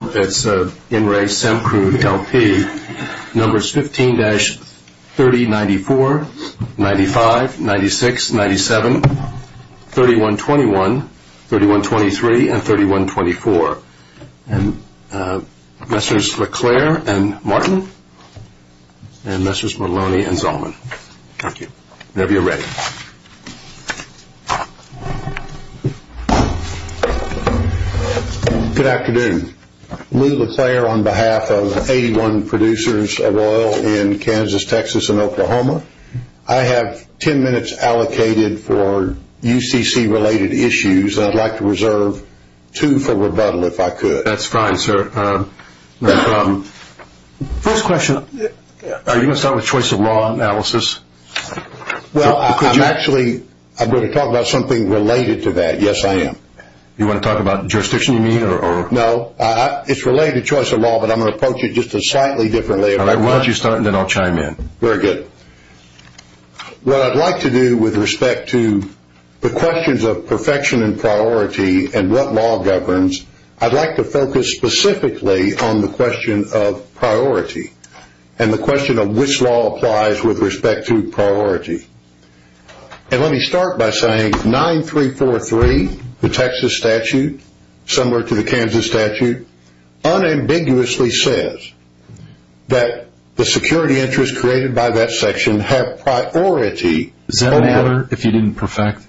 It's In Re Semcrude L P, numbers 15-3094, 95, 96, 97, 3121, 3123, and 3124. And Messrs. LeClaire and Martin, and Messrs. Maloney and Zalman. Good afternoon. Lou LeClaire on behalf of 81 producers of oil in Kansas, Texas, and Oklahoma. I have ten minutes allocated for UCC-related issues. I'd like to reserve two for rebuttal, if I could. That's fine, sir. First question, are you going to start with choice of law analysis? Well, I'm actually going to talk about something related to that. Yes, I am. You want to talk about jurisdiction, you mean? No, it's related to choice of law, but I'm going to approach it just a slightly different way. Why don't you start, and then I'll chime in. Very good. What I'd like to do with respect to the questions of perfection and priority and what law governs, I'd like to focus specifically on the question of priority and the question of which law applies with respect to priority. And let me start by saying 9343, the Texas statute, similar to the Kansas statute, unambiguously says that the security interests created by that section have priority. Does that matter if you didn't perfect?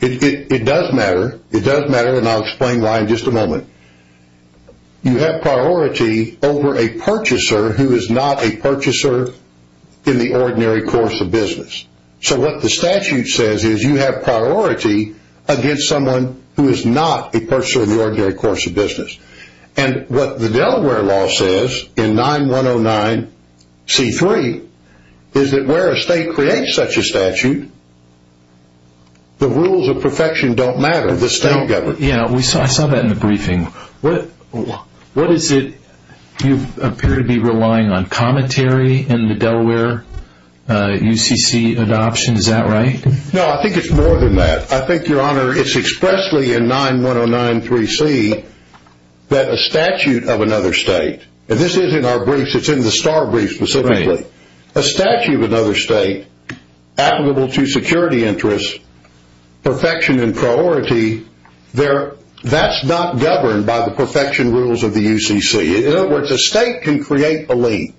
It does matter, it does matter, and I'll explain why in just a moment. You have priority over a purchaser who is not a purchaser in the ordinary course of business. So what the statute says is you have priority against someone who is not a purchaser in the ordinary course of business. And what the Delaware law says in 9109C3 is that where a state creates such a statute, the rules of perfection don't matter. I saw that in the briefing. You appear to be relying on commentary in the Delaware UCC adoption, is that right? No, I think it's more than that. I think, Your Honor, it's expressly in 9109C3 that a statute of another state, and this is in our briefs, it's in the STAR brief specifically, a statute of another state applicable to security interests, perfection and priority, that's not governed by the perfection rules of the UCC. In other words, a state can create a lien.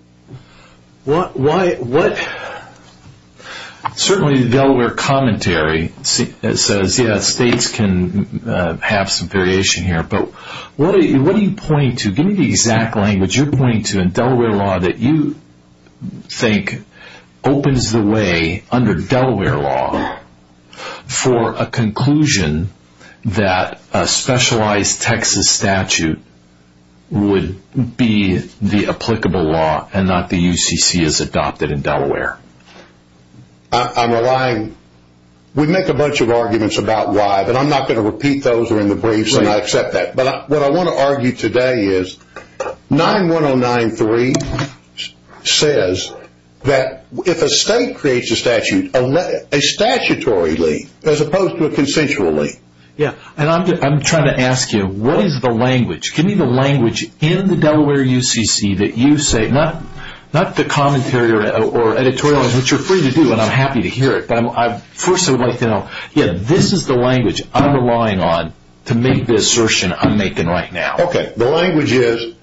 Certainly the Delaware commentary says, yes, states can have some variation here, but what are you pointing to? Give me the exact language you're pointing to in Delaware law that you think opens the way under Delaware law for a conclusion that a specialized Texas statute would be the applicable law and not the UCC as adopted in Delaware. I'm relying, we make a bunch of arguments about why, but I'm not going to repeat those or in the briefs and I accept that. But what I want to argue today is 91093 says that if a state creates a statute, a statutory lien as opposed to a consensual lien. I'm trying to ask you, what is the language? Give me the language in the Delaware UCC that you say, not the commentary or editorial, which you're free to do and I'm happy to hear it, but this is the language I'm relying on to make the assertion I'm making right now. The language is,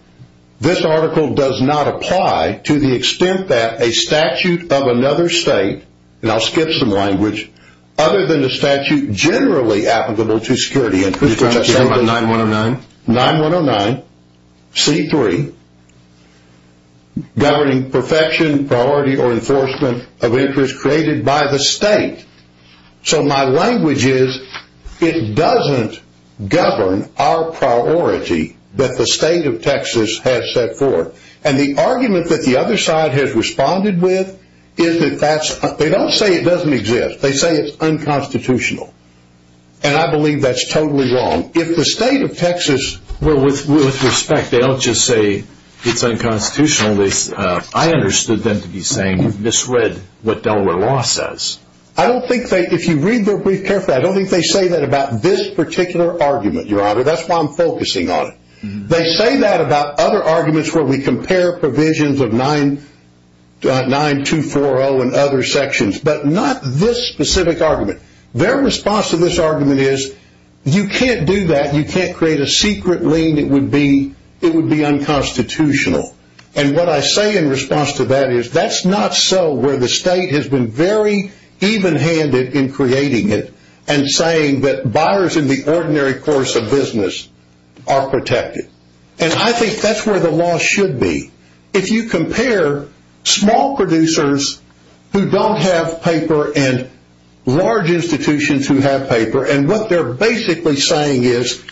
this article does not apply to the extent that a statute of another state, and I'll skip some language, other than the statute generally applicable to security interests, 9109, C3, governing perfection, priority, or enforcement of interest created by the state. So my language is, it doesn't govern our priority that the state of Texas has set forth. And the argument that the other side has responded with, they don't say it doesn't exist, they say it's unconstitutional. And I believe that's totally wrong. If the state of Texas… Well, with respect, they don't just say it's unconstitutional. I understood them to be saying, misread what Delaware law says. I don't think they, if you read their brief carefully, I don't think they say that about this particular argument, Your Honor. That's why I'm focusing on it. They say that about other arguments where we compare provisions of 9240 and other sections, but not this specific argument. Their response to this argument is, you can't do that, you can't create a secret lien, it would be unconstitutional. And what I say in response to that is, that's not so where the state has been very even-handed in creating it and saying that buyers in the ordinary course of business are protected. And I think that's where the law should be. If you compare small producers who don't have paper and large institutions who have paper, and what they're basically saying is,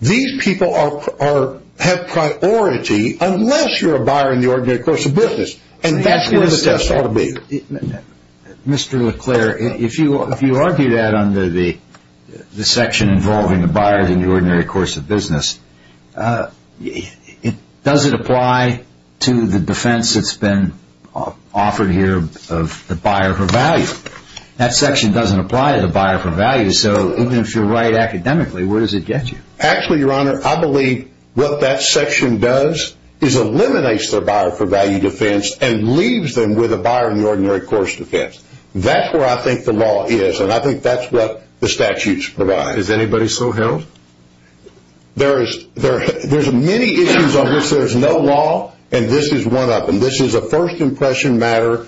these people have priority unless you're a buyer in the ordinary course of business. And that's where the test ought to be. Mr. LeClerc, if you argue that under the section involving the buyers in the ordinary course of business, does it apply to the defense that's been offered here of the buyer for value? That section doesn't apply to the buyer for value, so even if you're right academically, where does it get you? Actually, Your Honor, I believe what that section does is eliminates the buyer for value defense and leaves them with a buyer in the ordinary course defense. That's where I think the law is, and I think that's what the statutes provide. Mr. LeClerc, is anybody still held? There's many issues on this. There's no law, and this is one of them. This is a first impression matter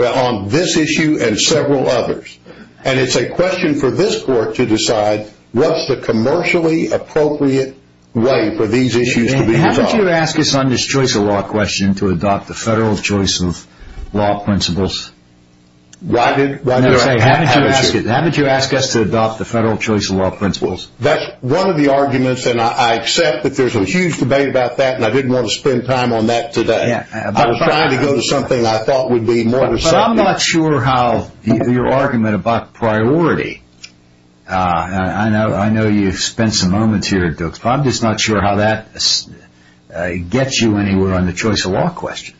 on this issue and several others. And it's a question for this Court to decide what's the commercially appropriate way for these issues to be resolved. Haven't you asked us on this choice of law question to adopt the federal choice of law principles? Why did I ask you? Haven't you asked us to adopt the federal choice of law principles? That's one of the arguments, and I accept that there's a huge debate about that, and I didn't want to spend time on that today. I was trying to go to something I thought would be more decisive. But I'm not sure how your argument about priority, I know you spent some moments here at Dukes, but I'm just not sure how that gets you anywhere on the choice of law question.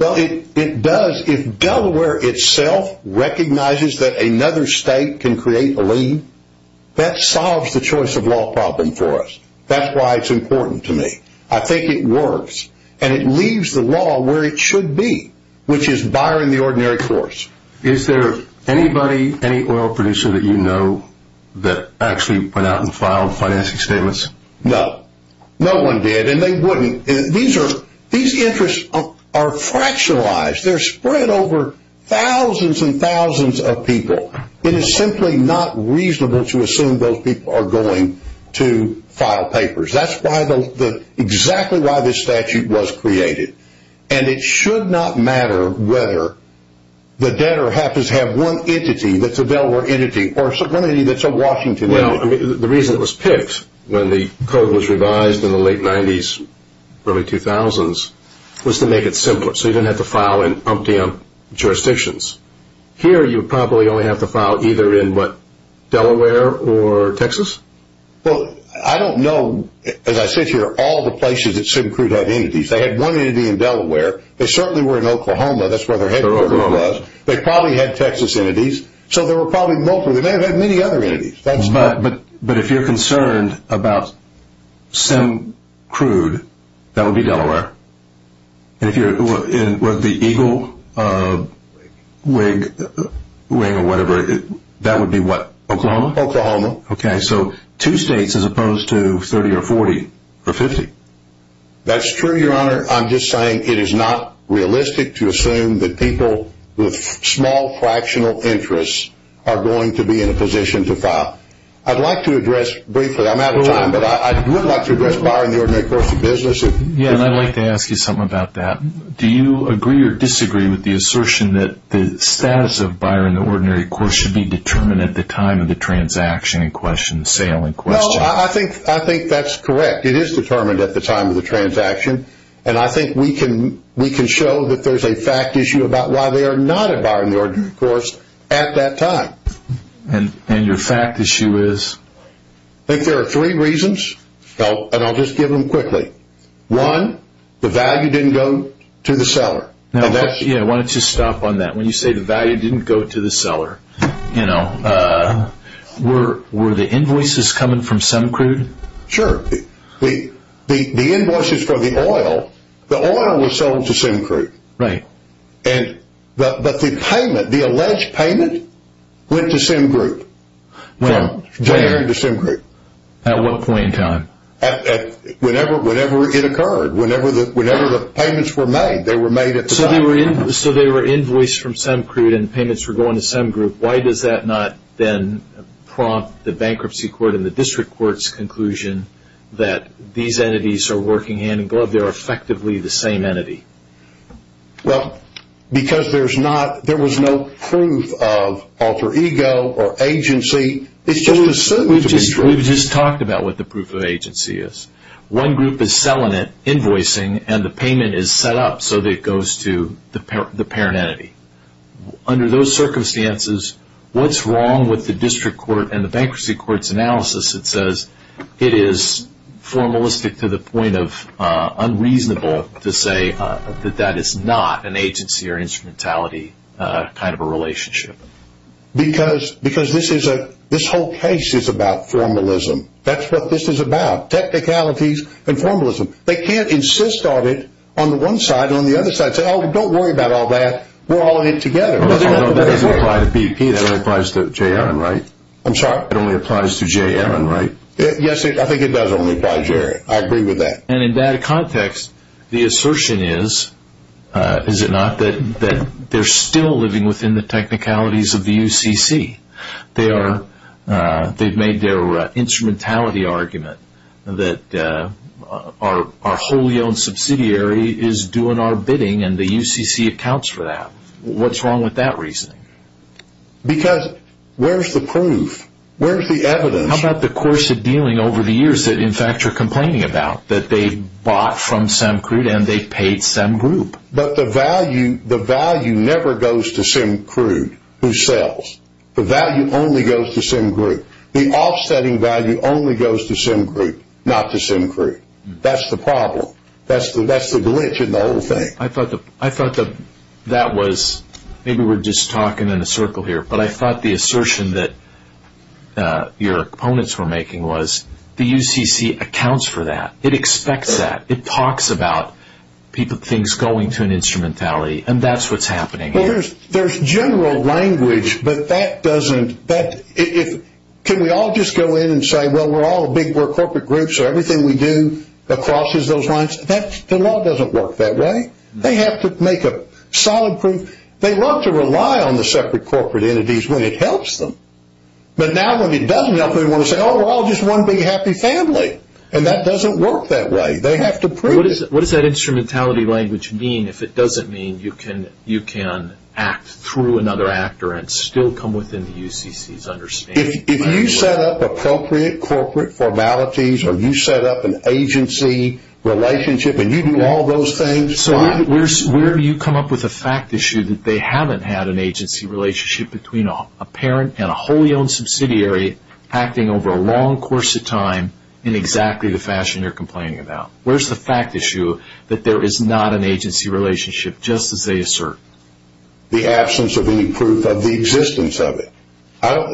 Well, it does. If Delaware itself recognizes that another state can create a lien, that solves the choice of law problem for us. That's why it's important to me. I think it works, and it leaves the law where it should be, which is buyer in the ordinary course. Is there anybody, any oil producer that you know that actually went out and filed financing statements? No. No one did, and they wouldn't. These interests are fractionalized. They're spread over thousands and thousands of people. It is simply not reasonable to assume those people are going to file papers. That's exactly why this statute was created, and it should not matter whether the debtor happens to have one entity that's a Delaware entity or one entity that's a Washington entity. Now, the reason it was picked when the code was revised in the late 90s, early 2000s, was to make it simpler, so you didn't have to file in umpteenth jurisdictions. Here, you probably only have to file either in, what, Delaware or Texas? Well, I don't know. As I sit here, all the places that SimCrude had entities, they had one entity in Delaware. They certainly were in Oklahoma. That's where their headquarters was. They probably had Texas entities, so there were probably multiple. They may have had many other entities. But if you're concerned about SimCrude, that would be Delaware. And if you're in, what, the Eagle wing or whatever, that would be, what, Oklahoma? Oklahoma. Okay, so two states as opposed to 30 or 40 or 50. That's true, Your Honor. I'm just saying it is not realistic to assume that people with small fractional interests are going to be in a position to file. I'd like to address briefly, I'm out of time, but I would like to address Buyer in the Ordinary Course of Business. Yeah, and I'd like to ask you something about that. Do you agree or disagree with the assertion that the status of Buyer in the Ordinary Course should be determined at the time of the transaction in question, sale in question? No, I think that's correct. It is determined at the time of the transaction, and I think we can show that there's a fact issue about why they are not at Buyer in the Ordinary Course at that time. And your fact issue is? I think there are three reasons, and I'll just give them quickly. One, the value didn't go to the seller. Yeah, why don't you stop on that. When you say the value didn't go to the seller, you know, were the invoices coming from Semacrude? Sure. The invoices for the oil, the oil was sold to Semacrude. Right. But the payment, the alleged payment, went to Semacrude. Well, at what point in time? Whenever it occurred. Whenever the payments were made, they were made at the time. So they were invoiced from Semacrude and the payments were going to Semacrude. Why does that not then prompt the bankruptcy court and the district court's conclusion that these entities are working hand in glove, they're effectively the same entity? Well, because there's not, there was no proof of alter ego or agency. It's just assumed to be true. We've just talked about what the proof of agency is. One group is selling it, invoicing, and the payment is set up so that it goes to the parent entity. Under those circumstances, what's wrong with the district court and the bankruptcy court's analysis that says it is formalistic to the point of unreasonable to say that that is not an agency or instrumentality kind of a relationship? Because this is a, this whole case is about formalism. That's what this is about, technicalities and formalism. They can't insist on it on the one side and on the other side and say, oh, don't worry about all that. We're all in it together. That doesn't apply to BP. That only applies to J.M., right? I'm sorry? That only applies to J.M., right? Yes, I think it does only apply to J.M. I agree with that. And in that context, the assertion is, is it not, that they're still living within the technicalities of the UCC. They are, they've made their instrumentality argument that our wholly owned subsidiary is doing our bidding and the UCC accounts for that. What's wrong with that reasoning? Because where's the proof? Where's the evidence? How about the course of dealing over the years that, in fact, you're complaining about, that they bought from SemCrude and they paid SemGroup? But the value, the value never goes to SemCrude, who sells. The value only goes to SemGroup. The offsetting value only goes to SemGroup, not to SemCrude. That's the problem. That's the glitch in the whole thing. I thought that that was, maybe we're just talking in a circle here, but I thought the assertion that your opponents were making was the UCC accounts for that. It expects that. It talks about things going to an instrumentality, and that's what's happening here. Well, there's general language, but that doesn't, that, if, can we all just go in and say, well, we're all a big, we're corporate groups, so everything we do crosses those lines? The law doesn't work that way. They have to make a solid proof. They love to rely on the separate corporate entities when it helps them, but now when it doesn't help them, they want to say, oh, we're all just one big happy family, and that doesn't work that way. They have to prove it. What does that instrumentality language mean if it doesn't mean you can act through another actor and still come within the UCC's understanding? If you set up appropriate corporate formalities or you set up an agency relationship and you do all those things. So where do you come up with a fact issue that they haven't had an agency relationship between a parent and a wholly owned subsidiary acting over a long course of time in exactly the fashion you're complaining about? Where's the fact issue that there is not an agency relationship just as they assert? The absence of any proof of the existence of it.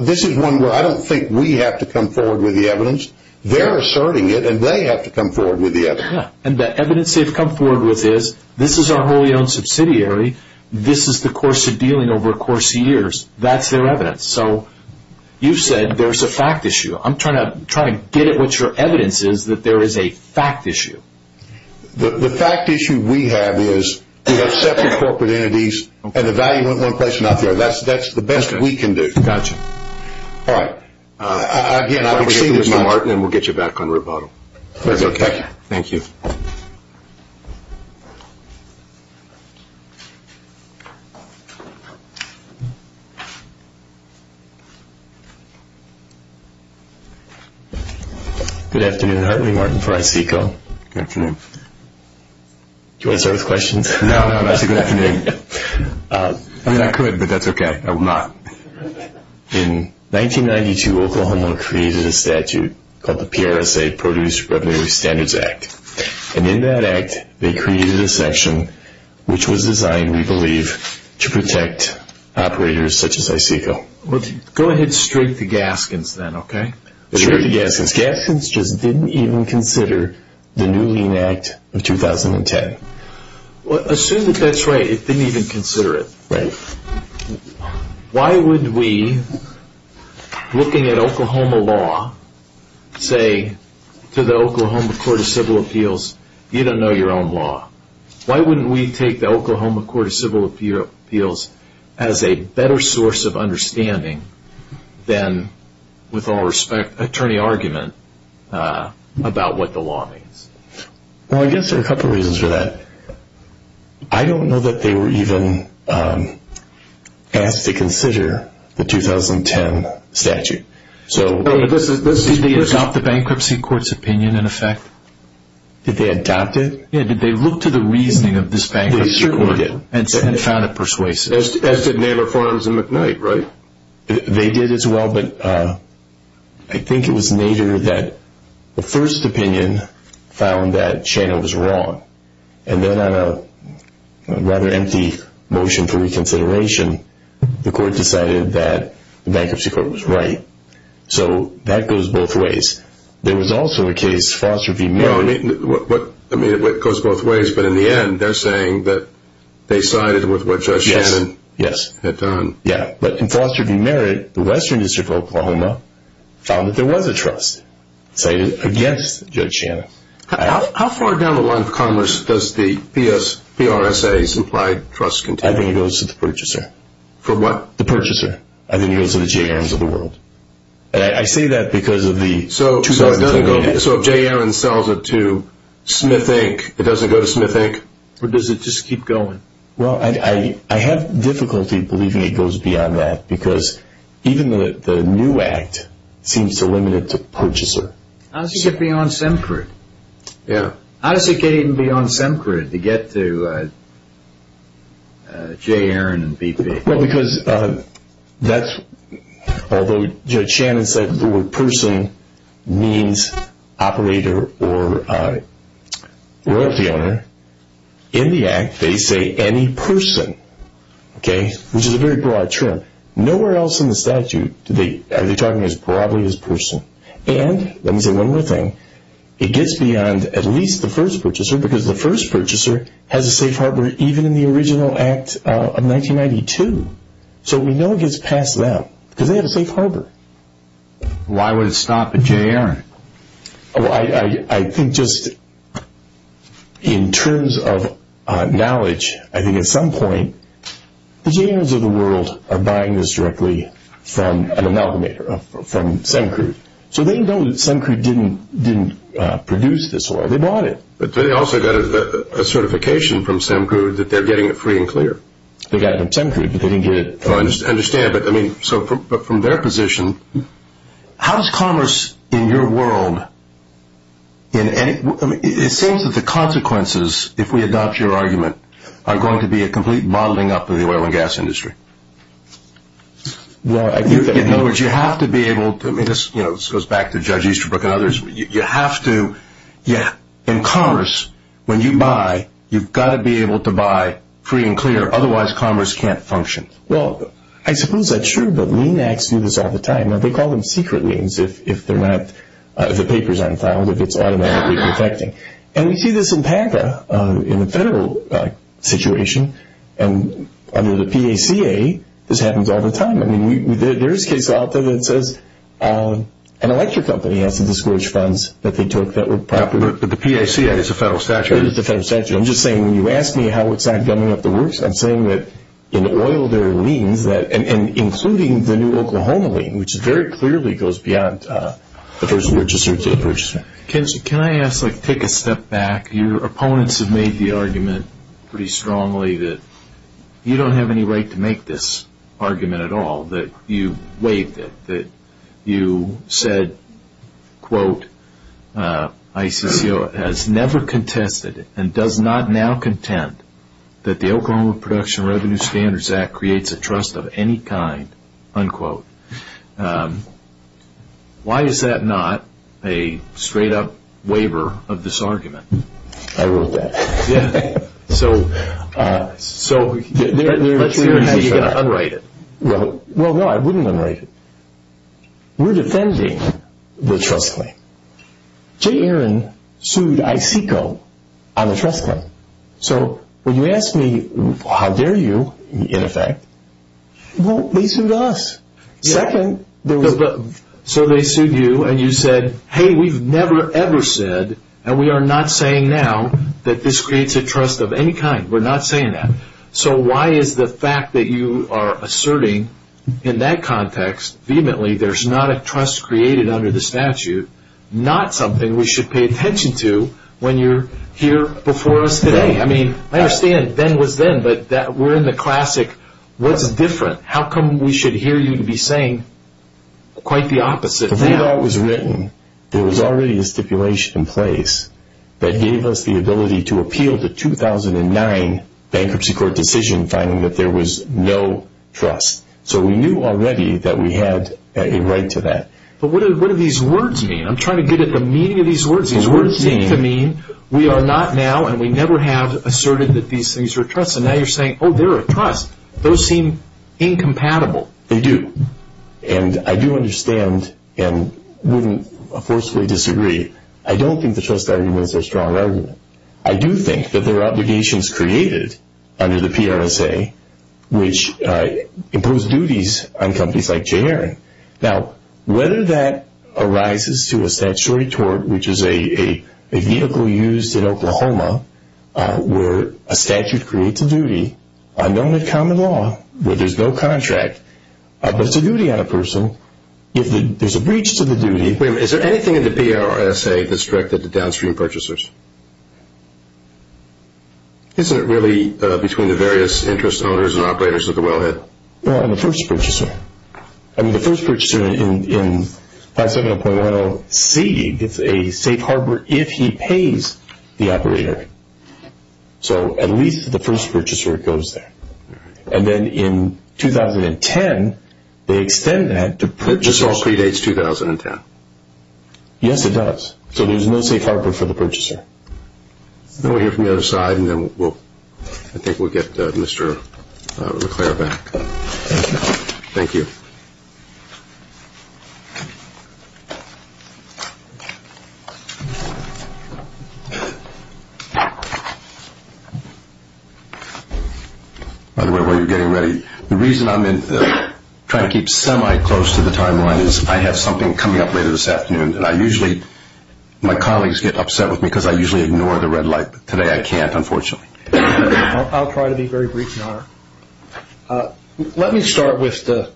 This is one where I don't think we have to come forward with the evidence. They're asserting it, and they have to come forward with the evidence. And the evidence they've come forward with is this is our wholly owned subsidiary. This is the course of dealing over a course of years. That's their evidence. So you've said there's a fact issue. I'm trying to get at what your evidence is that there is a fact issue. The fact issue we have is we have separate corporate entities, and the value in one place or another. That's the best we can do. All right. Again, I'm going to get this to Martin, and we'll get you back on rebuttal. Thank you. Good afternoon. Hartley Martin for ISECO. Good afternoon. Do you want to start with questions? No, I'm actually good afternoon. I mean, I could, but that's okay. I will not. In 1992, Oklahoma created a statute called the PRSA, Produce Revenue Standards Act. And in that act, they created a section which was designed, we believe, to protect operators such as ISECO. Go ahead and straight the Gaskins then, okay? Straight the Gaskins. Gaskins just didn't even consider the New Lean Act of 2010. Assume that that's right, it didn't even consider it. Right. Why wouldn't we, looking at Oklahoma law, say to the Oklahoma Court of Civil Appeals, you don't know your own law. Why wouldn't we take the Oklahoma Court of Civil Appeals as a better source of understanding than, with all respect, attorney argument about what the law means? Well, I guess there are a couple of reasons for that. I don't know that they were even asked to consider the 2010 statute. Did they adopt the bankruptcy court's opinion, in effect? Did they adopt it? Yeah, did they look to the reasoning of this bankruptcy court and found it persuasive? As did Nader Farns and McKnight, right? They did as well, but I think it was Nader that the first opinion found that Shana was wrong. And then on a rather empty motion for reconsideration, the court decided that the bankruptcy court was right. So that goes both ways. There was also a case, Foster v. Miller. I mean, it goes both ways, but in the end they're saying that they sided with what Judge Shannon had done. Yeah, but in Foster v. Merritt, the Western District of Oklahoma found that there was a trust, sided against Judge Shannon. How far down the line of commerce does the PRSA's implied trust continue? I think it goes to the purchaser. For what? The purchaser. I think it goes to the J.A.R.N.s of the world. And I say that because of the 2010 statute. So if J.A.R.N. sells it to Smith Inc., it doesn't go to Smith Inc.? Or does it just keep going? Well, I have difficulty believing it goes beyond that because even the new act seems to limit it to purchaser. How does it get beyond Semcrit? Yeah. How does it get even beyond Semcrit to get to J.A.R.N. and BP? Well, because although Judge Shannon said the word person means operator or royalty owner, in the act they say any person, which is a very broad term. Nowhere else in the statute are they talking as broadly as person. And let me say one more thing. It gets beyond at least the first purchaser because the first purchaser has a safe harbor even in the original act of 1992. So we know it gets past them because they have a safe harbor. Why would it stop at J.A.R.? I think just in terms of knowledge, I think at some point the J.A.R.N.s of the world are buying this directly from an amalgamator, from Semcrit. So they know that Semcrit didn't produce this oil. They bought it. But they also got a certification from Semcrit that they're getting it free and clear. They got it from Semcrit, but they didn't get it free. I understand. But from their position, how does commerce in your world, it seems that the consequences, if we adopt your argument, are going to be a complete bottling up of the oil and gas industry. In other words, you have to be able to, this goes back to Judge Easterbrook and others, you have to, in commerce, when you buy, you've got to be able to buy free and clear. Otherwise, commerce can't function. Well, I suppose that's true, but lien acts do this all the time. They call them secret liens if the paper's unfound, if it's automatically defecting. And we see this in PACA, in the federal situation, and under the PACA, this happens all the time. There is a case out there that says an electric company has to discourage funds that they took that were proper. But the PACA is a federal statute. It is a federal statute. I'm just saying, when you ask me how it's not gumming up the works, I'm saying that in the oil there are liens, and including the new Oklahoma lien, which very clearly goes beyond the first register to the purchaser. Ken, can I ask, like, take a step back. Your opponents have made the argument pretty strongly that you don't have any right to make this argument at all, that you waived it, that you said, quote, ICCO has never contested and does not now contend that the Oklahoma Production Revenue Standards Act creates a trust of any kind, unquote. Why is that not a straight-up waiver of this argument? I wrote that. So let's hear how you're going to unwrite it. Well, no, I wouldn't unwrite it. We're defending the trust claim. Jay Aaron sued ICCO on a trust claim. So when you ask me, how dare you, in effect, well, they sued us. So they sued you, and you said, hey, we've never ever said, and we are not saying now that this creates a trust of any kind. We're not saying that. So why is the fact that you are asserting in that context, vehemently, there's not a trust created under the statute, not something we should pay attention to when you're here before us today? I mean, I understand then was then, but we're in the classic what's different. How come we should hear you to be saying quite the opposite now? The way it all was written, there was already a stipulation in place that gave us the ability to appeal the 2009 bankruptcy court decision, finding that there was no trust. So we knew already that we had a right to that. But what do these words mean? I'm trying to get at the meaning of these words. These words seem to mean we are not now, and we never have asserted that these things are a trust. And now you're saying, oh, they're a trust. Those seem incompatible. They do. And I do understand and wouldn't forcefully disagree. I don't think the trust argument is a strong argument. I do think that there are obligations created under the PRSA which impose duties on companies like J. Aaron. Now, whether that arises to a statutory tort, which is a vehicle used in Oklahoma where a statute creates a duty, a known common law where there's no contract, but it's a duty on a person, if there's a breach to the duty. Wait a minute. Is there anything in the PRSA that's directed to downstream purchasers? Isn't it really between the various interest owners and operators of the wellhead? No, on the first purchaser. I mean, the first purchaser in 570.10C gets a safe harbor if he pays the operator. So at least the first purchaser goes there. And then in 2010, they extend that to purchasers. It just all predates 2010. Yes, it does. So there's no safe harbor for the purchaser. We'll hear from the other side, and then I think we'll get Mr. LeClaire back. Thank you. Thank you. By the way, while you're getting ready, the reason I'm trying to keep semi-close to the timeline is I have something coming up later this afternoon, and I usually, my colleagues get upset with me because I usually ignore the red light, but today I can't, unfortunately. Let me start with the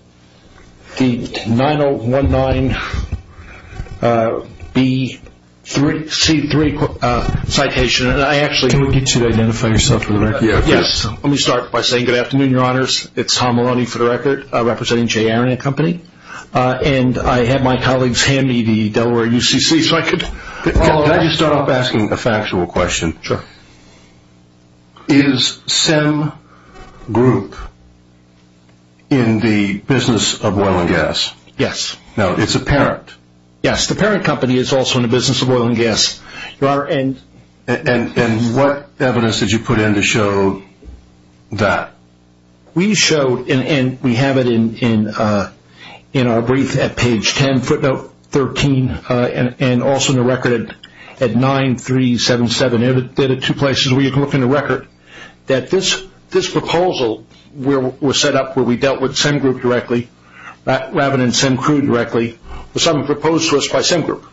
9019B3C3 citation. Can we get you to identify yourself for the record? Yes. Let me start by saying good afternoon, Your Honors. It's Tom Maloney for the record, representing J. Aaron and Company. And I have my colleagues hand me the Delaware UCC, so I could follow up. Can I just start off by asking a factual question? Sure. Is CEM Group in the business of oil and gas? Yes. Now, it's a parent. Yes, the parent company is also in the business of oil and gas. And what evidence did you put in to show that? We showed, and we have it in our brief at page 10, footnote 13, and also in the record at 9377. There are two places where you can look in the record, that this proposal was set up where we dealt with CEM Group directly, rather than CEM Crew directly, was something proposed to us by CEM Group,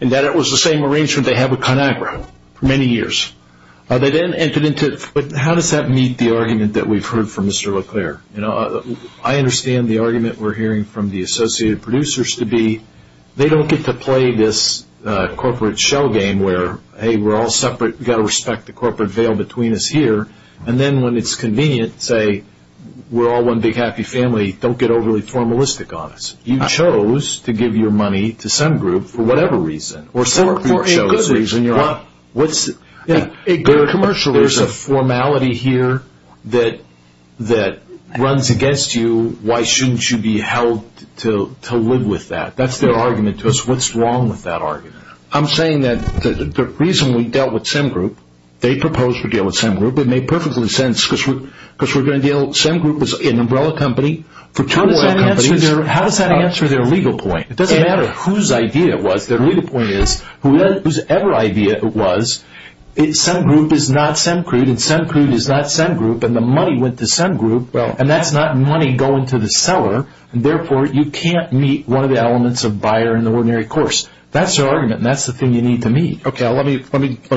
and that it was the same arrangement they had with ConAgra for many years. How does that meet the argument that we've heard from Mr. LeClair? I understand the argument we're hearing from the associated producers to be they don't get to play this corporate shell game where, hey, we're all separate, we've got to respect the corporate veil between us here, and then when it's convenient, say, we're all one big happy family, don't get overly formalistic on us. You chose to give your money to CEM Group for whatever reason. For a good reason. There's a formality here that runs against you. Why shouldn't you be held to live with that? That's their argument to us. What's wrong with that argument? I'm saying that the reason we dealt with CEM Group, they proposed we deal with CEM Group, it made perfectly sense, because we're going to deal with CEM Group as an umbrella company for two oil companies. How does that answer their legal point? It doesn't matter whose idea it was. Their legal point is, whosever idea it was, CEM Group is not CEM Crew, and CEM Crew is not CEM Group, and the money went to CEM Group, and that's not money going to the seller, and therefore you can't meet one of the elements of buyer in the ordinary course. That's their argument, and that's the thing you need to meet. Okay, let me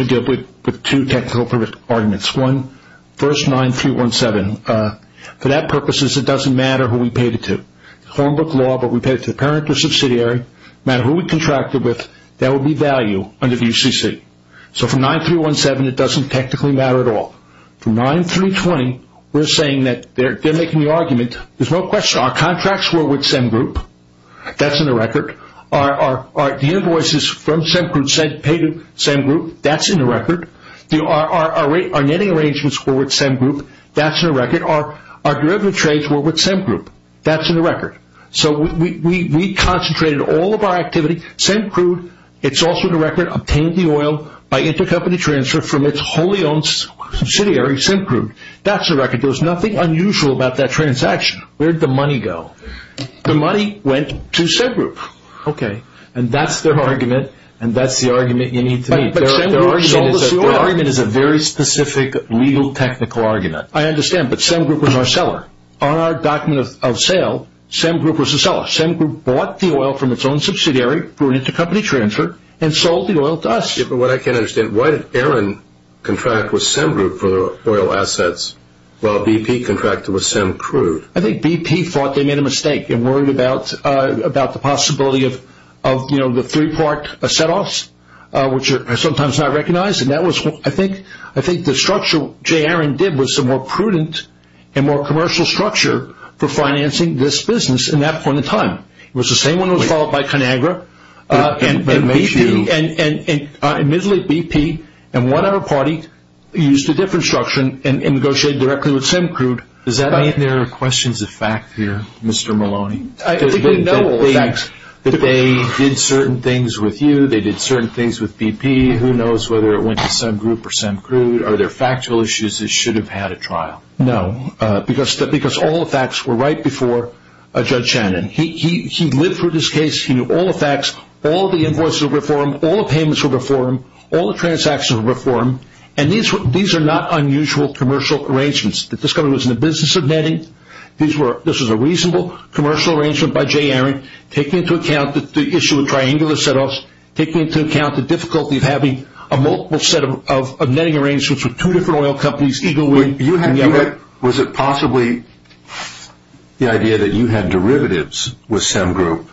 deal with two technical arguments. One, verse 9-3-1-7. For that purpose, it doesn't matter who we paid it to. Homebook law, but we paid it to the parent or subsidiary, no matter who we contracted with, that would be value under the UCC. So from 9-3-1-7, it doesn't technically matter at all. From 9-3-20, we're saying that they're making the argument, there's no question, our contracts were with CEM Group, that's in the record. The invoices from CEM Crew paid to CEM Group, that's in the record. Our netting arrangements were with CEM Group, that's in the record. Our derivative trades were with CEM Group, that's in the record. So we concentrated all of our activity. CEM Crew, it's also in the record, obtained the oil by intercompany transfer from its wholly owned subsidiary, CEM Crew, that's in the record. There's nothing unusual about that transaction. Where'd the money go? The money went to CEM Group. Okay, and that's their argument, and that's the argument you need to make. Their argument is a very specific legal technical argument. I understand, but CEM Group was our seller. On our document of sale, CEM Group was the seller. CEM Group bought the oil from its own subsidiary, brought it to company transfer, and sold the oil to us. Yeah, but what I can't understand, why did Aaron contract with CEM Group for the oil assets while BP contracted with CEM Crew? I think BP thought they made a mistake and worried about the possibility of the three-part set-offs, which are sometimes not recognized, and I think the structure Jay Aaron did was a more prudent and more commercial structure for financing this business in that point in time. It was the same one that was followed by ConAgra, and admittedly BP and one other party used a different structure and negotiated directly with CEM Crew. Does that mean there are questions of fact here, Mr. Maloney? I think they know all the facts. That they did certain things with you, they did certain things with BP, who knows whether it went to CEM Group or CEM Crew? Are there factual issues that should have had a trial? No, because all the facts were right before Judge Shannon. He lived through this case, he knew all the facts, all the invoices were before him, all the payments were before him, all the transactions were before him, and these are not unusual commercial arrangements. That this company was in the business of netting, this was a reasonable commercial arrangement by Jay Aaron, taking into account the issue of triangular set-offs, taking into account the difficulty of having a multiple set of netting arrangements with two different oil companies, Eagle Wind and Yammer. Was it possibly the idea that you had derivatives with CEM Group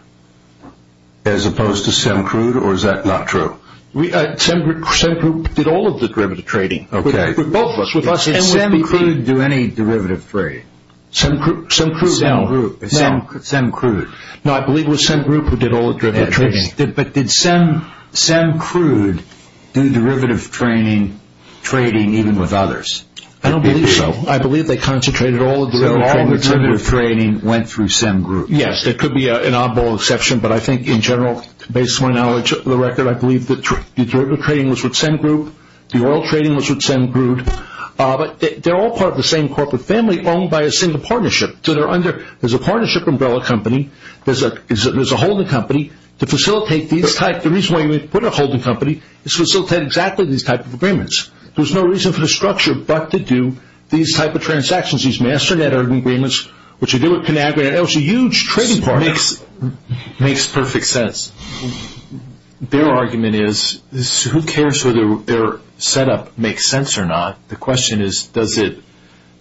as opposed to CEM Crew, or is that not true? CEM Group did all of the derivative trading with both of us. Did CEM Crew do any derivative trading? CEM Crew? CEM Crew. No, I believe it was CEM Group who did all the derivative trading. But did CEM Crew do derivative trading even with others? I don't believe so. I believe they concentrated all of the derivative trading. So all of the derivative trading went through CEM Group? Yes, there could be an oddball exception, but I think in general, based on my knowledge of the record, I believe that the derivative trading was with CEM Group, the oil trading was with CEM Group, but they're all part of the same corporate family owned by a single partnership. There's a partnership umbrella company, there's a holding company to facilitate these types. There's no reason for the structure but to do these type of transactions, these master-net agreements, which you do with Conagra. It was a huge trading partner. Makes perfect sense. Their argument is, who cares whether their setup makes sense or not? The question is, does it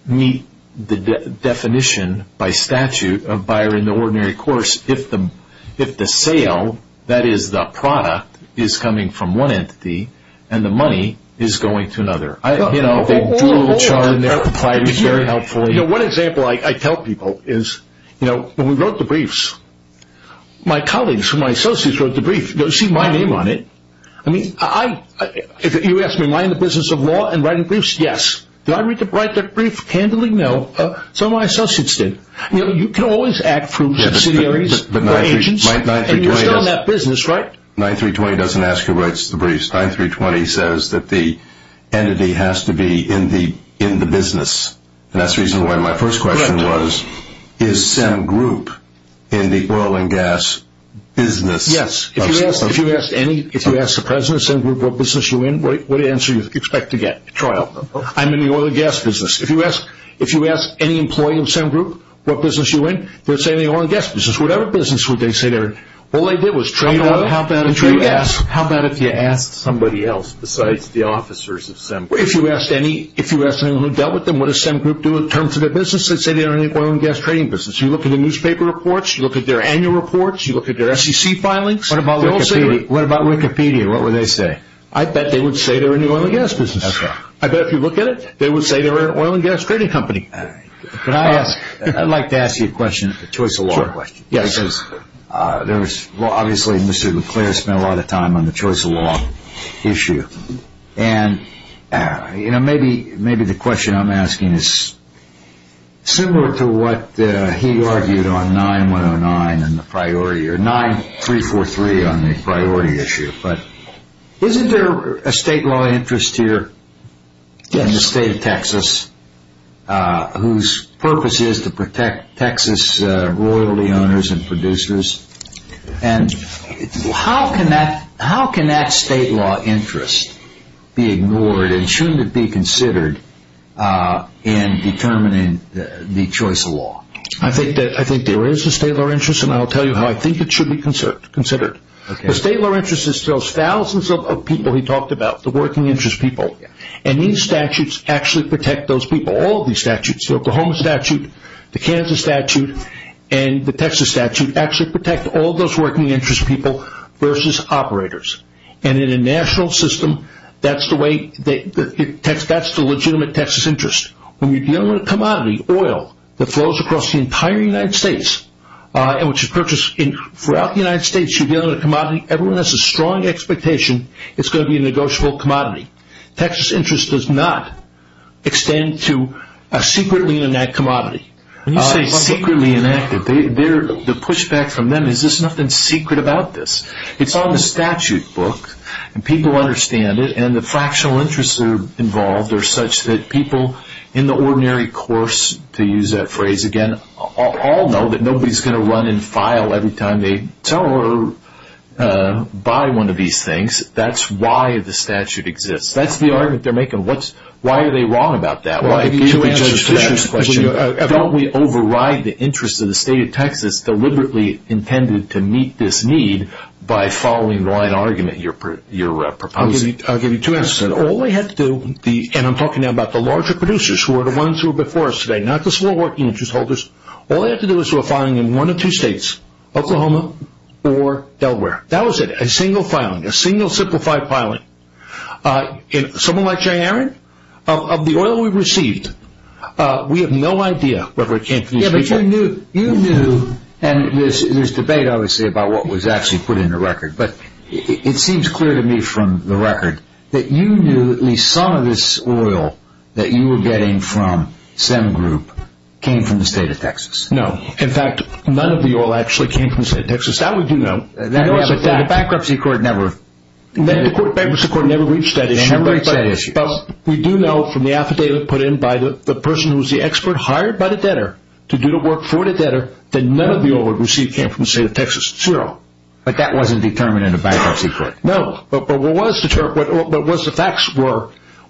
meet the definition by statute of buyer in the ordinary course if the sale, that is the product, is coming from one entity and the money is going to another? You know, they drew a little chart and they replied very helpfully. You know, one example I tell people is, you know, when we wrote the briefs, my colleagues, my associates wrote the brief. You don't see my name on it. I mean, you ask me, am I in the business of law and writing briefs? Yes. Did I write the brief handily? No. Some of my associates did. You know, you can always act from subsidiaries or agents, and you're still in that business, right? 9320 doesn't ask who writes the briefs. 9320 says that the entity has to be in the business. And that's the reason why my first question was, is CEM Group in the oil and gas business? Yes. If you ask the President of CEM Group what business you're in, what answer do you expect to get? I'm in the oil and gas business. If you ask any employee of CEM Group what business you're in, they'll say they're in the oil and gas business. Whatever business would they say they're in? All they did was trade oil and trade gas. How about if you asked somebody else besides the officers of CEM Group? If you asked anyone who dealt with them, what does CEM Group do in terms of their business? They'd say they're in the oil and gas trading business. You look at the newspaper reports. You look at their annual reports. You look at their SEC filings. What about Wikipedia? What would they say? I bet they would say they're in the oil and gas business. That's right. I bet if you look at it, they would say they're in the oil and gas trading company. Could I ask? I'd like to ask you a question, a choice of law question. Yes. Obviously, Mr. Leclerc spent a lot of time on the choice of law issue. Maybe the question I'm asking is similar to what he argued on 9-109 and the priority, or 9-343 on the priority issue. Isn't there a state law interest here in the state of Texas whose purpose is to protect Texas royalty owners and producers? How can that state law interest be ignored and shouldn't it be considered in determining the choice of law? I think there is a state law interest, and I'll tell you how I think it should be considered. The state law interest is those thousands of people he talked about, the working interest people. These statutes actually protect those people, all of these statutes. The Oklahoma statute, the Kansas statute, and the Texas statute actually protect all those working interest people versus operators. In a national system, that's the legitimate Texas interest. When you're dealing with a commodity, oil, that flows across the entire United States, which is purchased throughout the United States. You're dealing with a commodity. Everyone has a strong expectation it's going to be a negotiable commodity. Texas interest does not extend to a secretly enacted commodity. When you say secretly enacted, the pushback from them is there's nothing secret about this. It's on the statute book, and people understand it, and the fractional interests involved are such that people in the ordinary course, to use that phrase again, all know that nobody is going to run and file every time they tell or buy one of these things. That's why the statute exists. That's the argument they're making. Why are they wrong about that? Why give you answers to that? Don't we override the interest of the state of Texas deliberately intended to meet this need by following the line argument you're proposing? I'll give you two answers. All they had to do, and I'm talking now about the larger producers who were the ones who were before us today, not the small working interest holders. All they had to do was to a filing in one of two states, Oklahoma or Delaware. That was it, a single filing, a single simplified filing. Someone like Jay Aaron, of the oil we received, we have no idea whether it came from these people. Yeah, but you knew, and there's debate obviously about what was actually put in the record, but it seems clear to me from the record that you knew at least some of this oil that you were getting from Sem Group came from the state of Texas. No. In fact, none of the oil actually came from the state of Texas. That we do know. The bankruptcy court never reached that issue. But we do know from the affidavit put in by the person who was the expert hired by the debtor to do the work for the debtor, that none of the oil we received came from the state of Texas, zero. But that wasn't determined in the bankruptcy court. No, but what the facts were,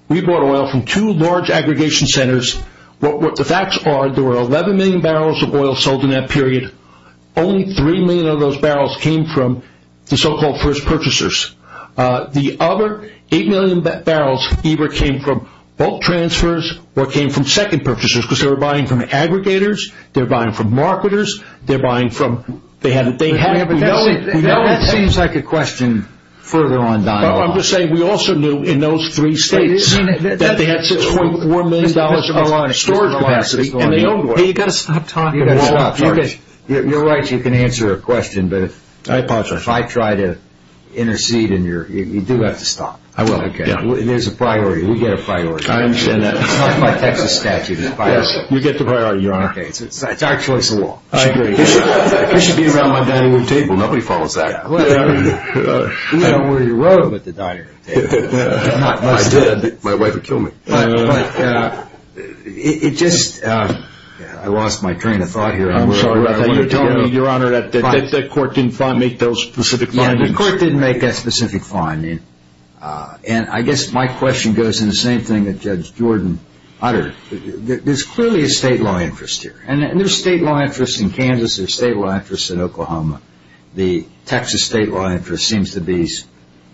we bought oil from two large aggregation centers. What the facts are, there were 11 million barrels of oil sold in that period. Only 3 million of those barrels came from the so-called first purchasers. The other 8 million barrels either came from bulk transfers or came from second purchasers, because they were buying from aggregators, they were buying from marketers, they're buying from... That seems like a question further on down the line. I'm just saying we also knew in those three states that they had $6.4 million of storage capacity. You've got to stop talking. You're right, you can answer a question, but if I try to intercede, you do have to stop. I will. There's a priority. We get a priority. I understand that. It's not by Texas statute. You get the priority, Your Honor. Okay, it's our choice of law. It should be around my dining room table. Nobody follows that. I don't wear a robe at the dining room table. I did. My wife would kill me. But it just, I lost my train of thought here. I'm sorry about that. You're telling me, Your Honor, that the court didn't make those specific findings. Yeah, the court didn't make that specific finding, and I guess my question goes in the same thing that Judge Jordan uttered. There's clearly a state law interest here. And there's state law interest in Kansas. There's state law interest in Oklahoma. The Texas state law interest seems to be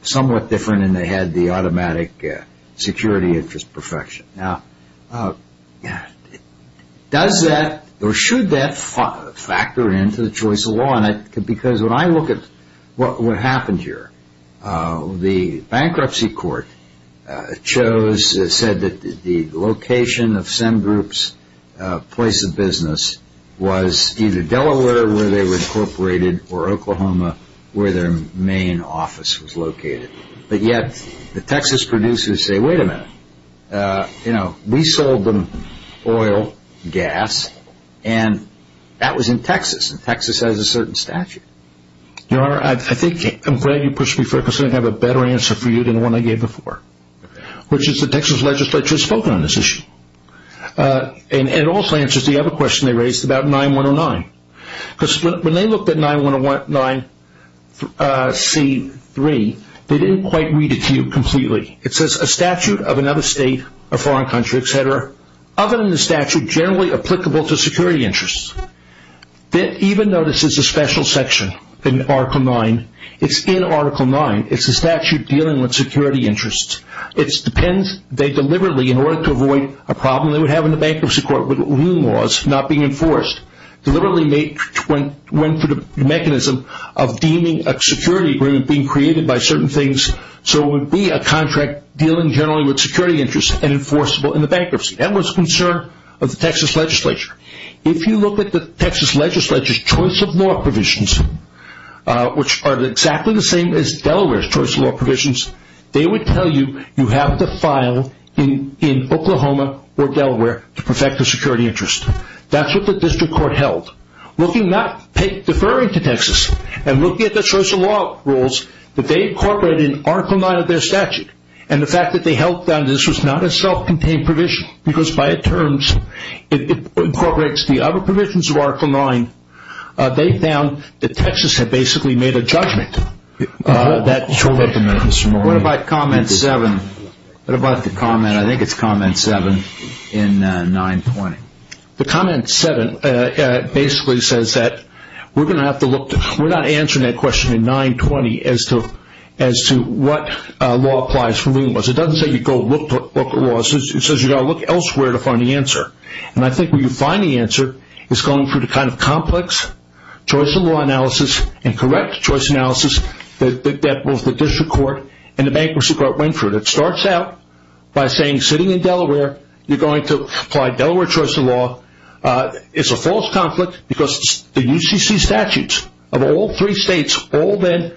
somewhat different, and they had the automatic security interest perfection. Now, does that or should that factor into the choice of law? Because when I look at what happened here, the bankruptcy court chose, said that the location of Sem Group's place of business was either Delaware, where they were incorporated, or Oklahoma, where their main office was located. But yet the Texas producers say, wait a minute. We sold them oil, gas, and that was in Texas, and Texas has a certain statute. Your Honor, I think I'm glad you pushed me forward because I have a better answer for you than the one I gave before, which is the Texas legislature has spoken on this issue. And it also answers the other question they raised about 9109. Because when they looked at 9109C3, they didn't quite read it to you completely. It says a statute of another state, a foreign country, et cetera, other than the statute generally applicable to security interests, that even though this is a special section in Article 9, it's in Article 9. It's a statute dealing with security interests. It depends. They deliberately, in order to avoid a problem they would have in the bankruptcy court with new laws not being enforced, deliberately went for the mechanism of deeming a security agreement being created by certain things so it would be a contract dealing generally with security interests and enforceable in the bankruptcy. That was a concern of the Texas legislature. If you look at the Texas legislature's choice of law provisions, which are exactly the same as Delaware's choice of law provisions, they would tell you you have to file in Oklahoma or Delaware to perfect a security interest. That's what the district court held. Deferring to Texas and looking at the choice of law rules that they incorporated in Article 9 of their statute and the fact that they held that this was not a self-contained provision because by its terms it incorporates the other provisions of Article 9, they found that Texas had basically made a judgment. What about comment 7? What about the comment, I think it's comment 7 in 920. The comment 7 basically says that we're going to have to look, we're not answering that question in 920 as to what law applies for new laws. It doesn't say you go look at law. It says you've got to look elsewhere to find the answer. I think where you find the answer is going through the kind of complex choice of law analysis and correct choice analysis that both the district court and the bankruptcy court went through. It starts out by saying sitting in Delaware you're going to apply Delaware choice of law. It's a false conflict because the UCC statutes of all three states all then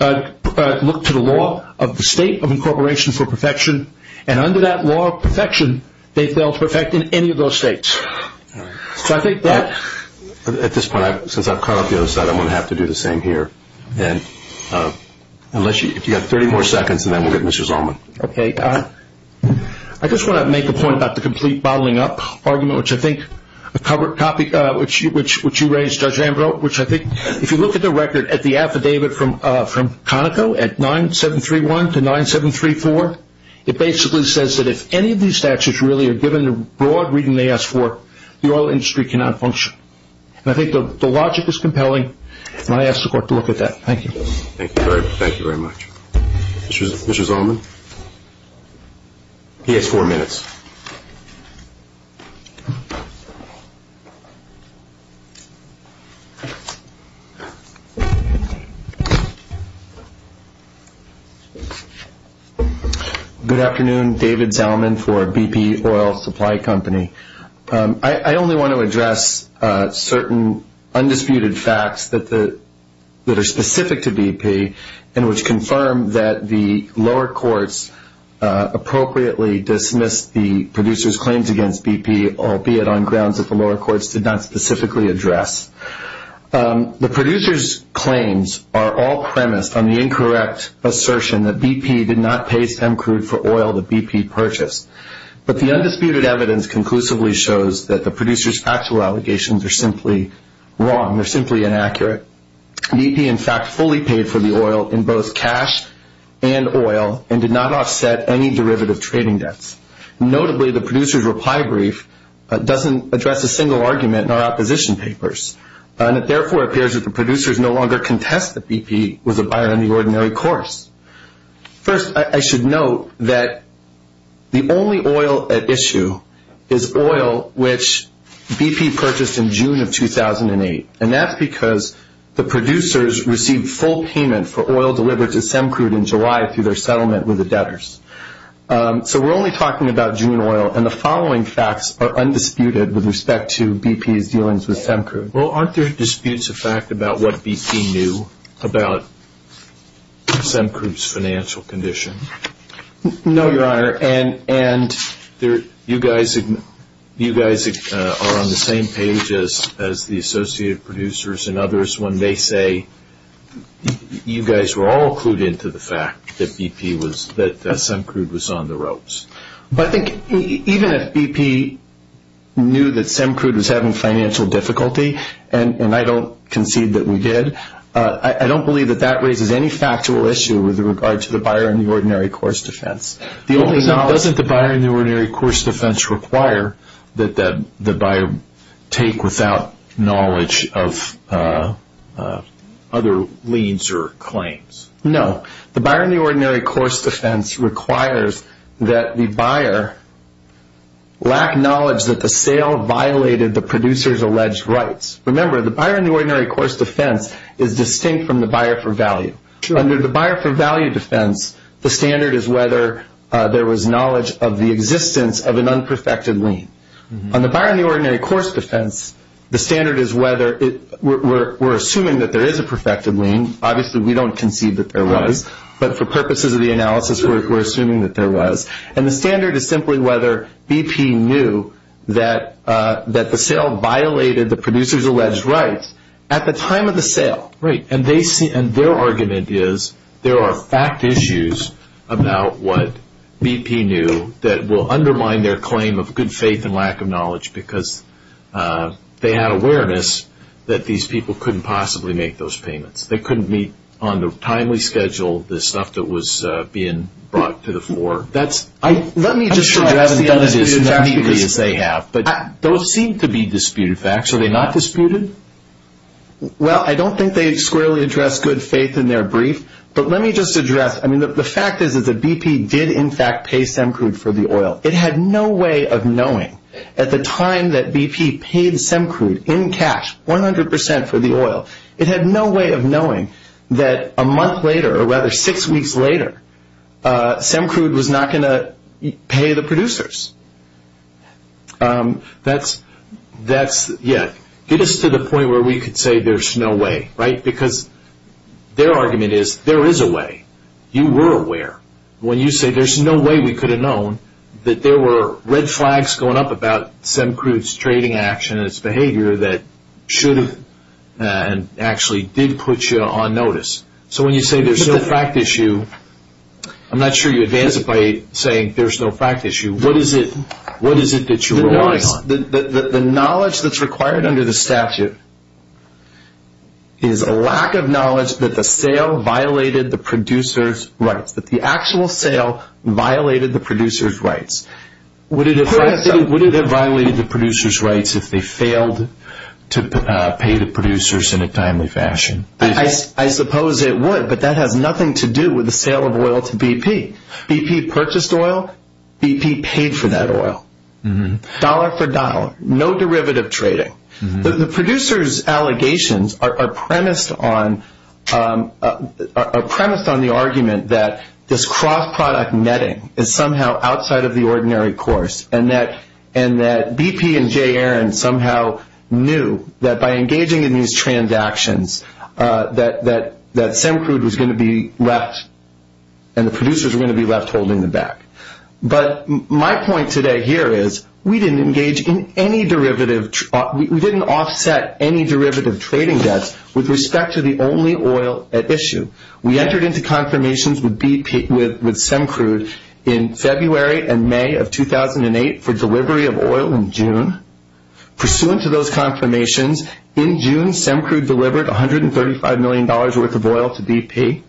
look to the law of the state of incorporation for perfection and under that law of perfection they fail to perfect in any of those states. So I think that. At this point, since I've caught up the other side, I'm going to have to do the same here. If you've got 30 more seconds and then we'll get Mr. Zalman. Okay. I just want to make a point about the complete bottling up argument, which I think a covered copy, which you raised, Judge Ambrose, which I think if you look at the record at the affidavit from Conoco at 9731 to 9734, it basically says that if any of these statutes really are given the broad reading they ask for, the oil industry cannot function. And I think the logic is compelling, and I ask the court to look at that. Thank you. Thank you very much. Mr. Zalman? He has four minutes. Good afternoon. David Zalman for BP Oil Supply Company. I only want to address certain undisputed facts that are specific to BP and which confirm that the lower courts appropriately dismissed the producer's claims against BP, albeit on grounds that the lower courts did not specifically address. The producer's claims are all premised on the incorrect assertion that BP did not pay Stemcrude for oil that BP purchased. But the undisputed evidence conclusively shows that the producer's factual allegations are simply wrong. They're simply inaccurate. BP, in fact, fully paid for the oil in both cash and oil and did not offset any derivative trading debts. Notably, the producer's reply brief doesn't address a single argument in our opposition papers, and it therefore appears that the producers no longer contest that BP was a buyer on the ordinary course. First, I should note that the only oil at issue is oil which BP purchased in June of 2008, and that's because the producers received full payment for oil delivered to Stemcrude in July through their settlement with the debtors. So we're only talking about June oil, and the following facts are undisputed with respect to BP's dealings with Stemcrude. Well, aren't there disputes of fact about what BP knew about Stemcrude's financial condition? No, Your Honor, and you guys are on the same page as the Associated Producers and others when they say you guys were all clued into the fact that Stemcrude was on the ropes. But I think even if BP knew that Stemcrude was having financial difficulty, and I don't concede that we did, I don't believe that that raises any factual issue with regard to the buyer on the ordinary course defense. Doesn't the buyer on the ordinary course defense require that the buyer take without knowledge of other leads or claims? No. The buyer on the ordinary course defense requires that the buyer lack knowledge that the sale violated the producer's alleged rights. Remember, the buyer on the ordinary course defense is distinct from the buyer for value. Under the buyer for value defense, the standard is whether there was knowledge of the existence of an unperfected lien. On the buyer on the ordinary course defense, the standard is whether we're assuming that there is a perfected lien. Obviously, we don't concede that there was, but for purposes of the analysis, we're assuming that there was. And the standard is simply whether BP knew that the sale violated the producer's alleged rights at the time of the sale. Right. And their argument is there are fact issues about what BP knew that will undermine their claim of good faith and lack of knowledge because they had awareness that these people couldn't possibly make those payments. They couldn't meet on the timely schedule the stuff that was being brought to the floor. I'm sure I haven't done this as neatly as they have, but those seem to be disputed facts. Are they not disputed? Well, I don't think they squarely address good faith in their brief, but let me just address, I mean, the fact is that BP did in fact pay Semcrude for the oil. It had no way of knowing at the time that BP paid Semcrude in cash 100% for the oil. It had no way of knowing that a month later or rather six weeks later, Semcrude was not going to pay the producers. That's, yeah, get us to the point where we could say there's no way, right, because their argument is there is a way. You were aware. When you say there's no way we could have known that there were red flags going up about Semcrude's trading action and its behavior that should have and actually did put you on notice. So when you say there's no fact issue, I'm not sure you advance it by saying there's no fact issue. What is it that you were relying on? The knowledge that's required under the statute is a lack of knowledge that the sale violated the producer's rights, that the actual sale violated the producer's rights. Would it have violated the producer's rights if they failed to pay the producers in a timely fashion? I suppose it would, but that has nothing to do with the sale of oil to BP. BP purchased oil. BP paid for that oil. Dollar for dollar, no derivative trading. The producer's allegations are premised on the argument that this cross-product netting is somehow outside of the ordinary course and that BP and Jay Aaron somehow knew that by engaging in these transactions that Semcrude was going to be left and the producers were going to be left holding the back. But my point today here is we didn't offset any derivative trading debts with respect to the only oil at issue. We entered into confirmations with Semcrude in February and May of 2008 for delivery of oil in June. Pursuant to those confirmations, in June, Semcrude delivered $135 million worth of oil to BP.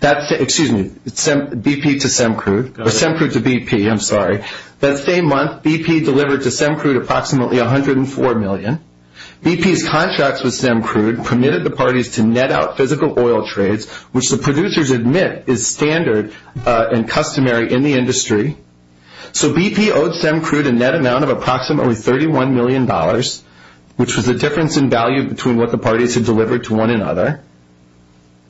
Excuse me, BP to Semcrude, or Semcrude to BP, I'm sorry. That same month, BP delivered to Semcrude approximately $104 million. BP's contracts with Semcrude permitted the parties to net out physical oil trades, which the producers admit is standard and customary in the industry. So BP owed Semcrude a net amount of approximately $31 million, which was the difference in value between what the parties had delivered to one another.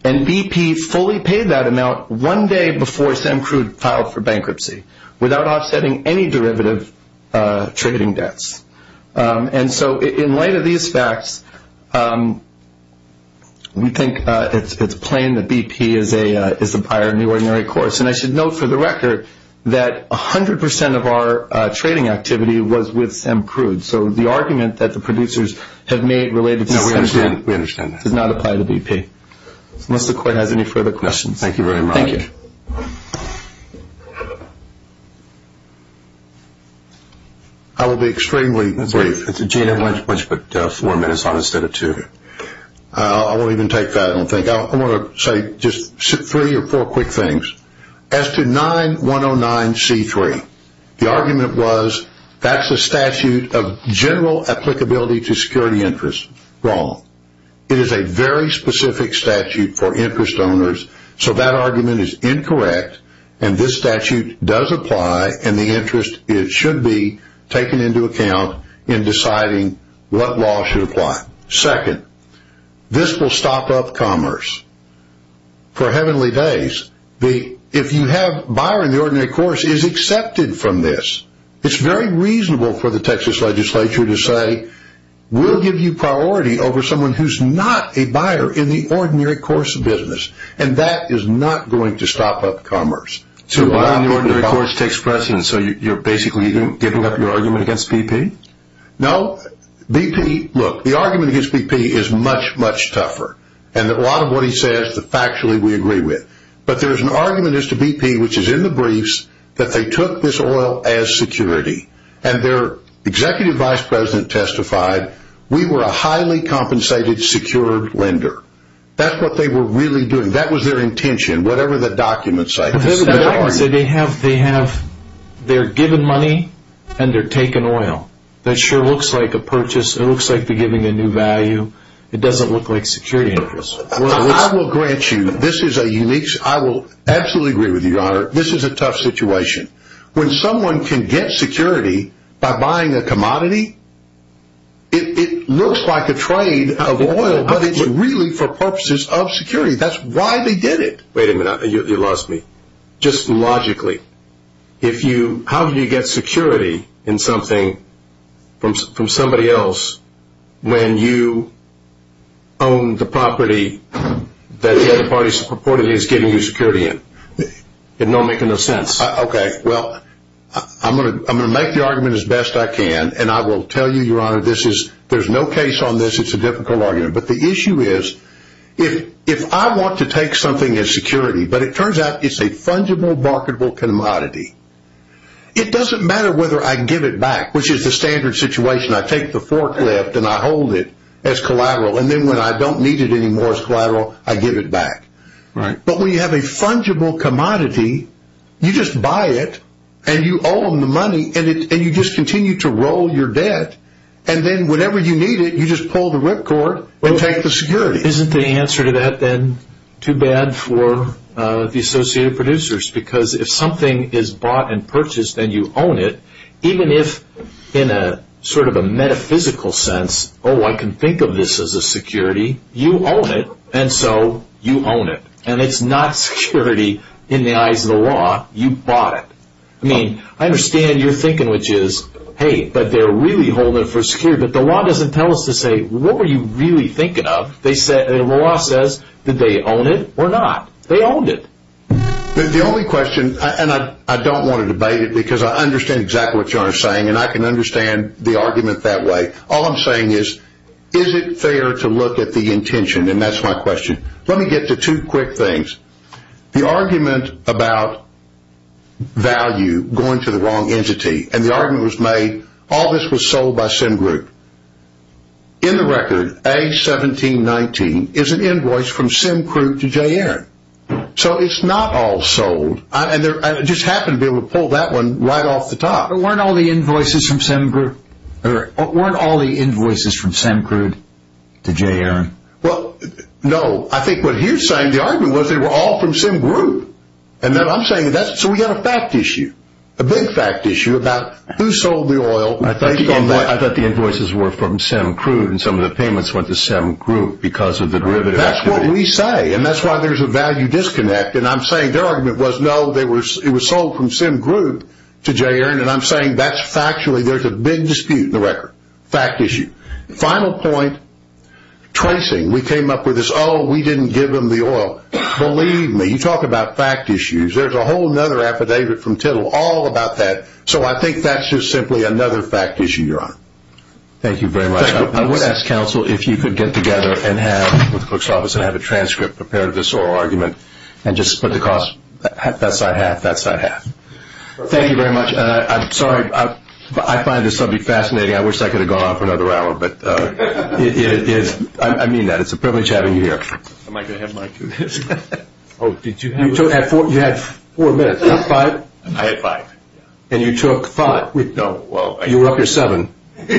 And BP fully paid that amount one day before Semcrude filed for bankruptcy without offsetting any derivative trading debts. And so in light of these facts, we think it's plain that BP is the buyer in the ordinary course. And I should note for the record that 100% of our trading activity was with Semcrude. So the argument that the producers have made related to Semcrude did not apply to BP. Unless the court has any further questions. Thank you very much. Thank you. I will be extremely brief. Gina, why don't you put four minutes on instead of two? I won't even take that, I don't think. I want to say just three or four quick things. As to 9109C3, the argument was that's a statute of general applicability to security interests. Wrong. It is a very specific statute for interest owners, so that argument is incorrect. And this statute does apply, and the interest should be taken into account in deciding what law should apply. Second, this will stop up commerce for heavenly days. If you have a buyer in the ordinary course, it is accepted from this. It is very reasonable for the Texas legislature to say, we will give you priority over someone who is not a buyer in the ordinary course of business. And that is not going to stop up commerce. So the ordinary course takes precedence, so you are basically giving up your argument against BP? No. BP, look, the argument against BP is much, much tougher. And a lot of what he says, factually we agree with. But there is an argument against BP, which is in the briefs, that they took this oil as security. And their executive vice president testified, we were a highly compensated secured lender. That's what they were really doing. That was their intention, whatever the documents say. They have, they're given money and they're taking oil. That sure looks like a purchase. It looks like they're giving a new value. It doesn't look like security interests. I will grant you, this is a unique, I will absolutely agree with you, Your Honor. This is a tough situation. When someone can get security by buying a commodity, it looks like a trade of oil, but it's really for purposes of security. That's why they did it. Wait a minute, you lost me. Just logically, if you, how do you get security in something from somebody else when you own the property that the other party purportedly is giving you security in? It don't make enough sense. Okay, well, I'm going to make the argument as best I can. And I will tell you, Your Honor, this is, there's no case on this. It's a difficult argument. But the issue is, if I want to take something as security, but it turns out it's a fungible, marketable commodity, it doesn't matter whether I give it back, which is the standard situation. I take the forklift and I hold it as collateral. And then when I don't need it anymore as collateral, I give it back. Right. But when you have a fungible commodity, you just buy it and you own the money and you just continue to roll your debt. And then whenever you need it, you just pull the ripcord and take the security. Isn't the answer to that then too bad for the associated producers? Because if something is bought and purchased and you own it, even if in a sort of a metaphysical sense, oh, I can think of this as a security, you own it, and so you own it. And it's not security in the eyes of the law. You bought it. I mean, I understand your thinking, which is, hey, but they're really holding it for security. But the law doesn't tell us to say, what were you really thinking of? The law says, did they own it or not? They owned it. The only question, and I don't want to debate it because I understand exactly what you are saying and I can understand the argument that way. All I'm saying is, is it fair to look at the intention? And that's my question. Let me get to two quick things. The argument about value going to the wrong entity, and the argument was made, all this was sold by Sim Group. In the record, A1719 is an invoice from Sim Group to Jay Aaron. So it's not all sold. I just happened to be able to pull that one right off the top. But weren't all the invoices from Sim Group? Or weren't all the invoices from Sim Group to Jay Aaron? Well, no. I think what he was saying, the argument was they were all from Sim Group. And then I'm saying, so we have a fact issue, a big fact issue about who sold the oil. I thought the invoices were from Sim Group and some of the payments went to Sim Group because of the derivative activity. That's what we say. And that's why there's a value disconnect. And I'm saying their argument was, no, it was sold from Sim Group to Jay Aaron. And I'm saying that's factually, there's a big dispute in the record. Fact issue. Final point, tracing. We came up with this, oh, we didn't give them the oil. Believe me, you talk about fact issues. There's a whole other affidavit from Tittle all about that. So I think that's just simply another fact issue, Your Honor. Thank you very much. I would ask counsel if you could get together and have, with the cook's office, and have a transcript prepared of this oral argument and just split the cost. That side half, that side half. Thank you very much. I'm sorry. I find this subject fascinating. I wish that could have gone on for another hour. I mean that. It's a privilege having you here. Am I going to have Mike do this? You had four minutes, not five? I had five. And you took five? No. You were up your seven. Three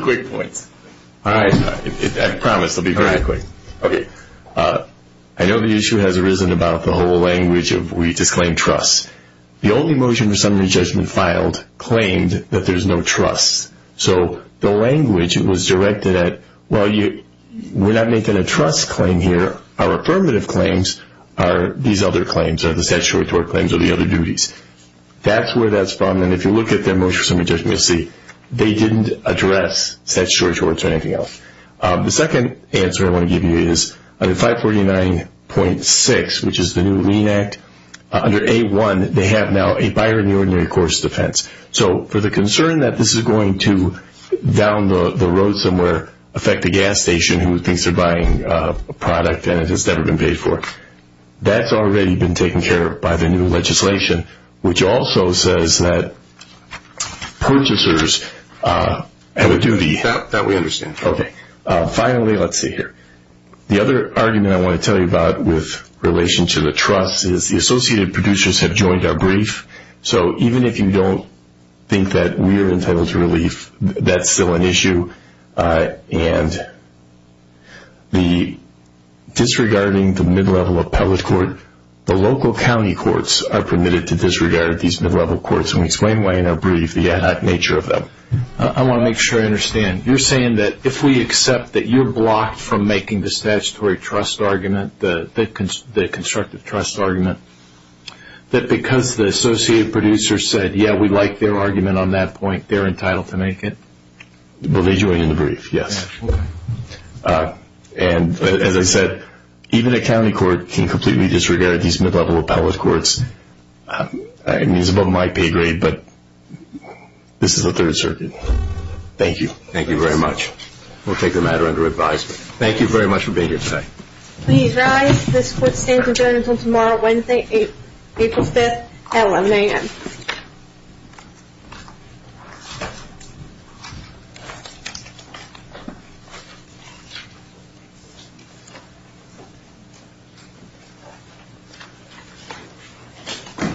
quick points. All right. I promise they'll be very quick. Okay. I know the issue has arisen about the whole language of we disclaim trust. The only motion the summary judgment filed claimed that there's no trust. So the language was directed at, well, we're not making a trust claim here. Our affirmative claims are these other claims, are the statutory claims or the other duties. That's where that's from. And if you look at their motion for summary judgment, you'll see they didn't address statutory or anything else. The second answer I want to give you is under 549.6, which is the new Lean Act, under A1 they have now a buyer in the ordinary course defense. So for the concern that this is going to down the road somewhere, affect the gas station who thinks they're buying a product and it has never been paid for, that's already been taken care of by the new legislation, which also says that purchasers have a duty. That we understand. Okay. Finally, let's see here. The other argument I want to tell you about with relation to the trust is the Associated Producers have joined our brief. So even if you don't think that we're entitled to relief, that's still an issue. And disregarding the mid-level appellate court, the local county courts are permitted to disregard these mid-level courts. And we explain why in our brief the ad hoc nature of them. I want to make sure I understand. You're saying that if we accept that you're blocked from making the statutory trust argument, the constructive trust argument, that because the Associated Producers said, yeah, we like their argument on that point, they're entitled to make it? Well, they joined in the brief, yes. And as I said, even a county court can completely disregard these mid-level appellate courts. I mean, it's above my pay grade, but this is the Third Circuit. Thank you. Thank you very much. We'll take the matter under advisement. Thank you very much for being here today. Please rise. This court stands adjourned until tomorrow, Wednesday, April 5th at 11 a.m.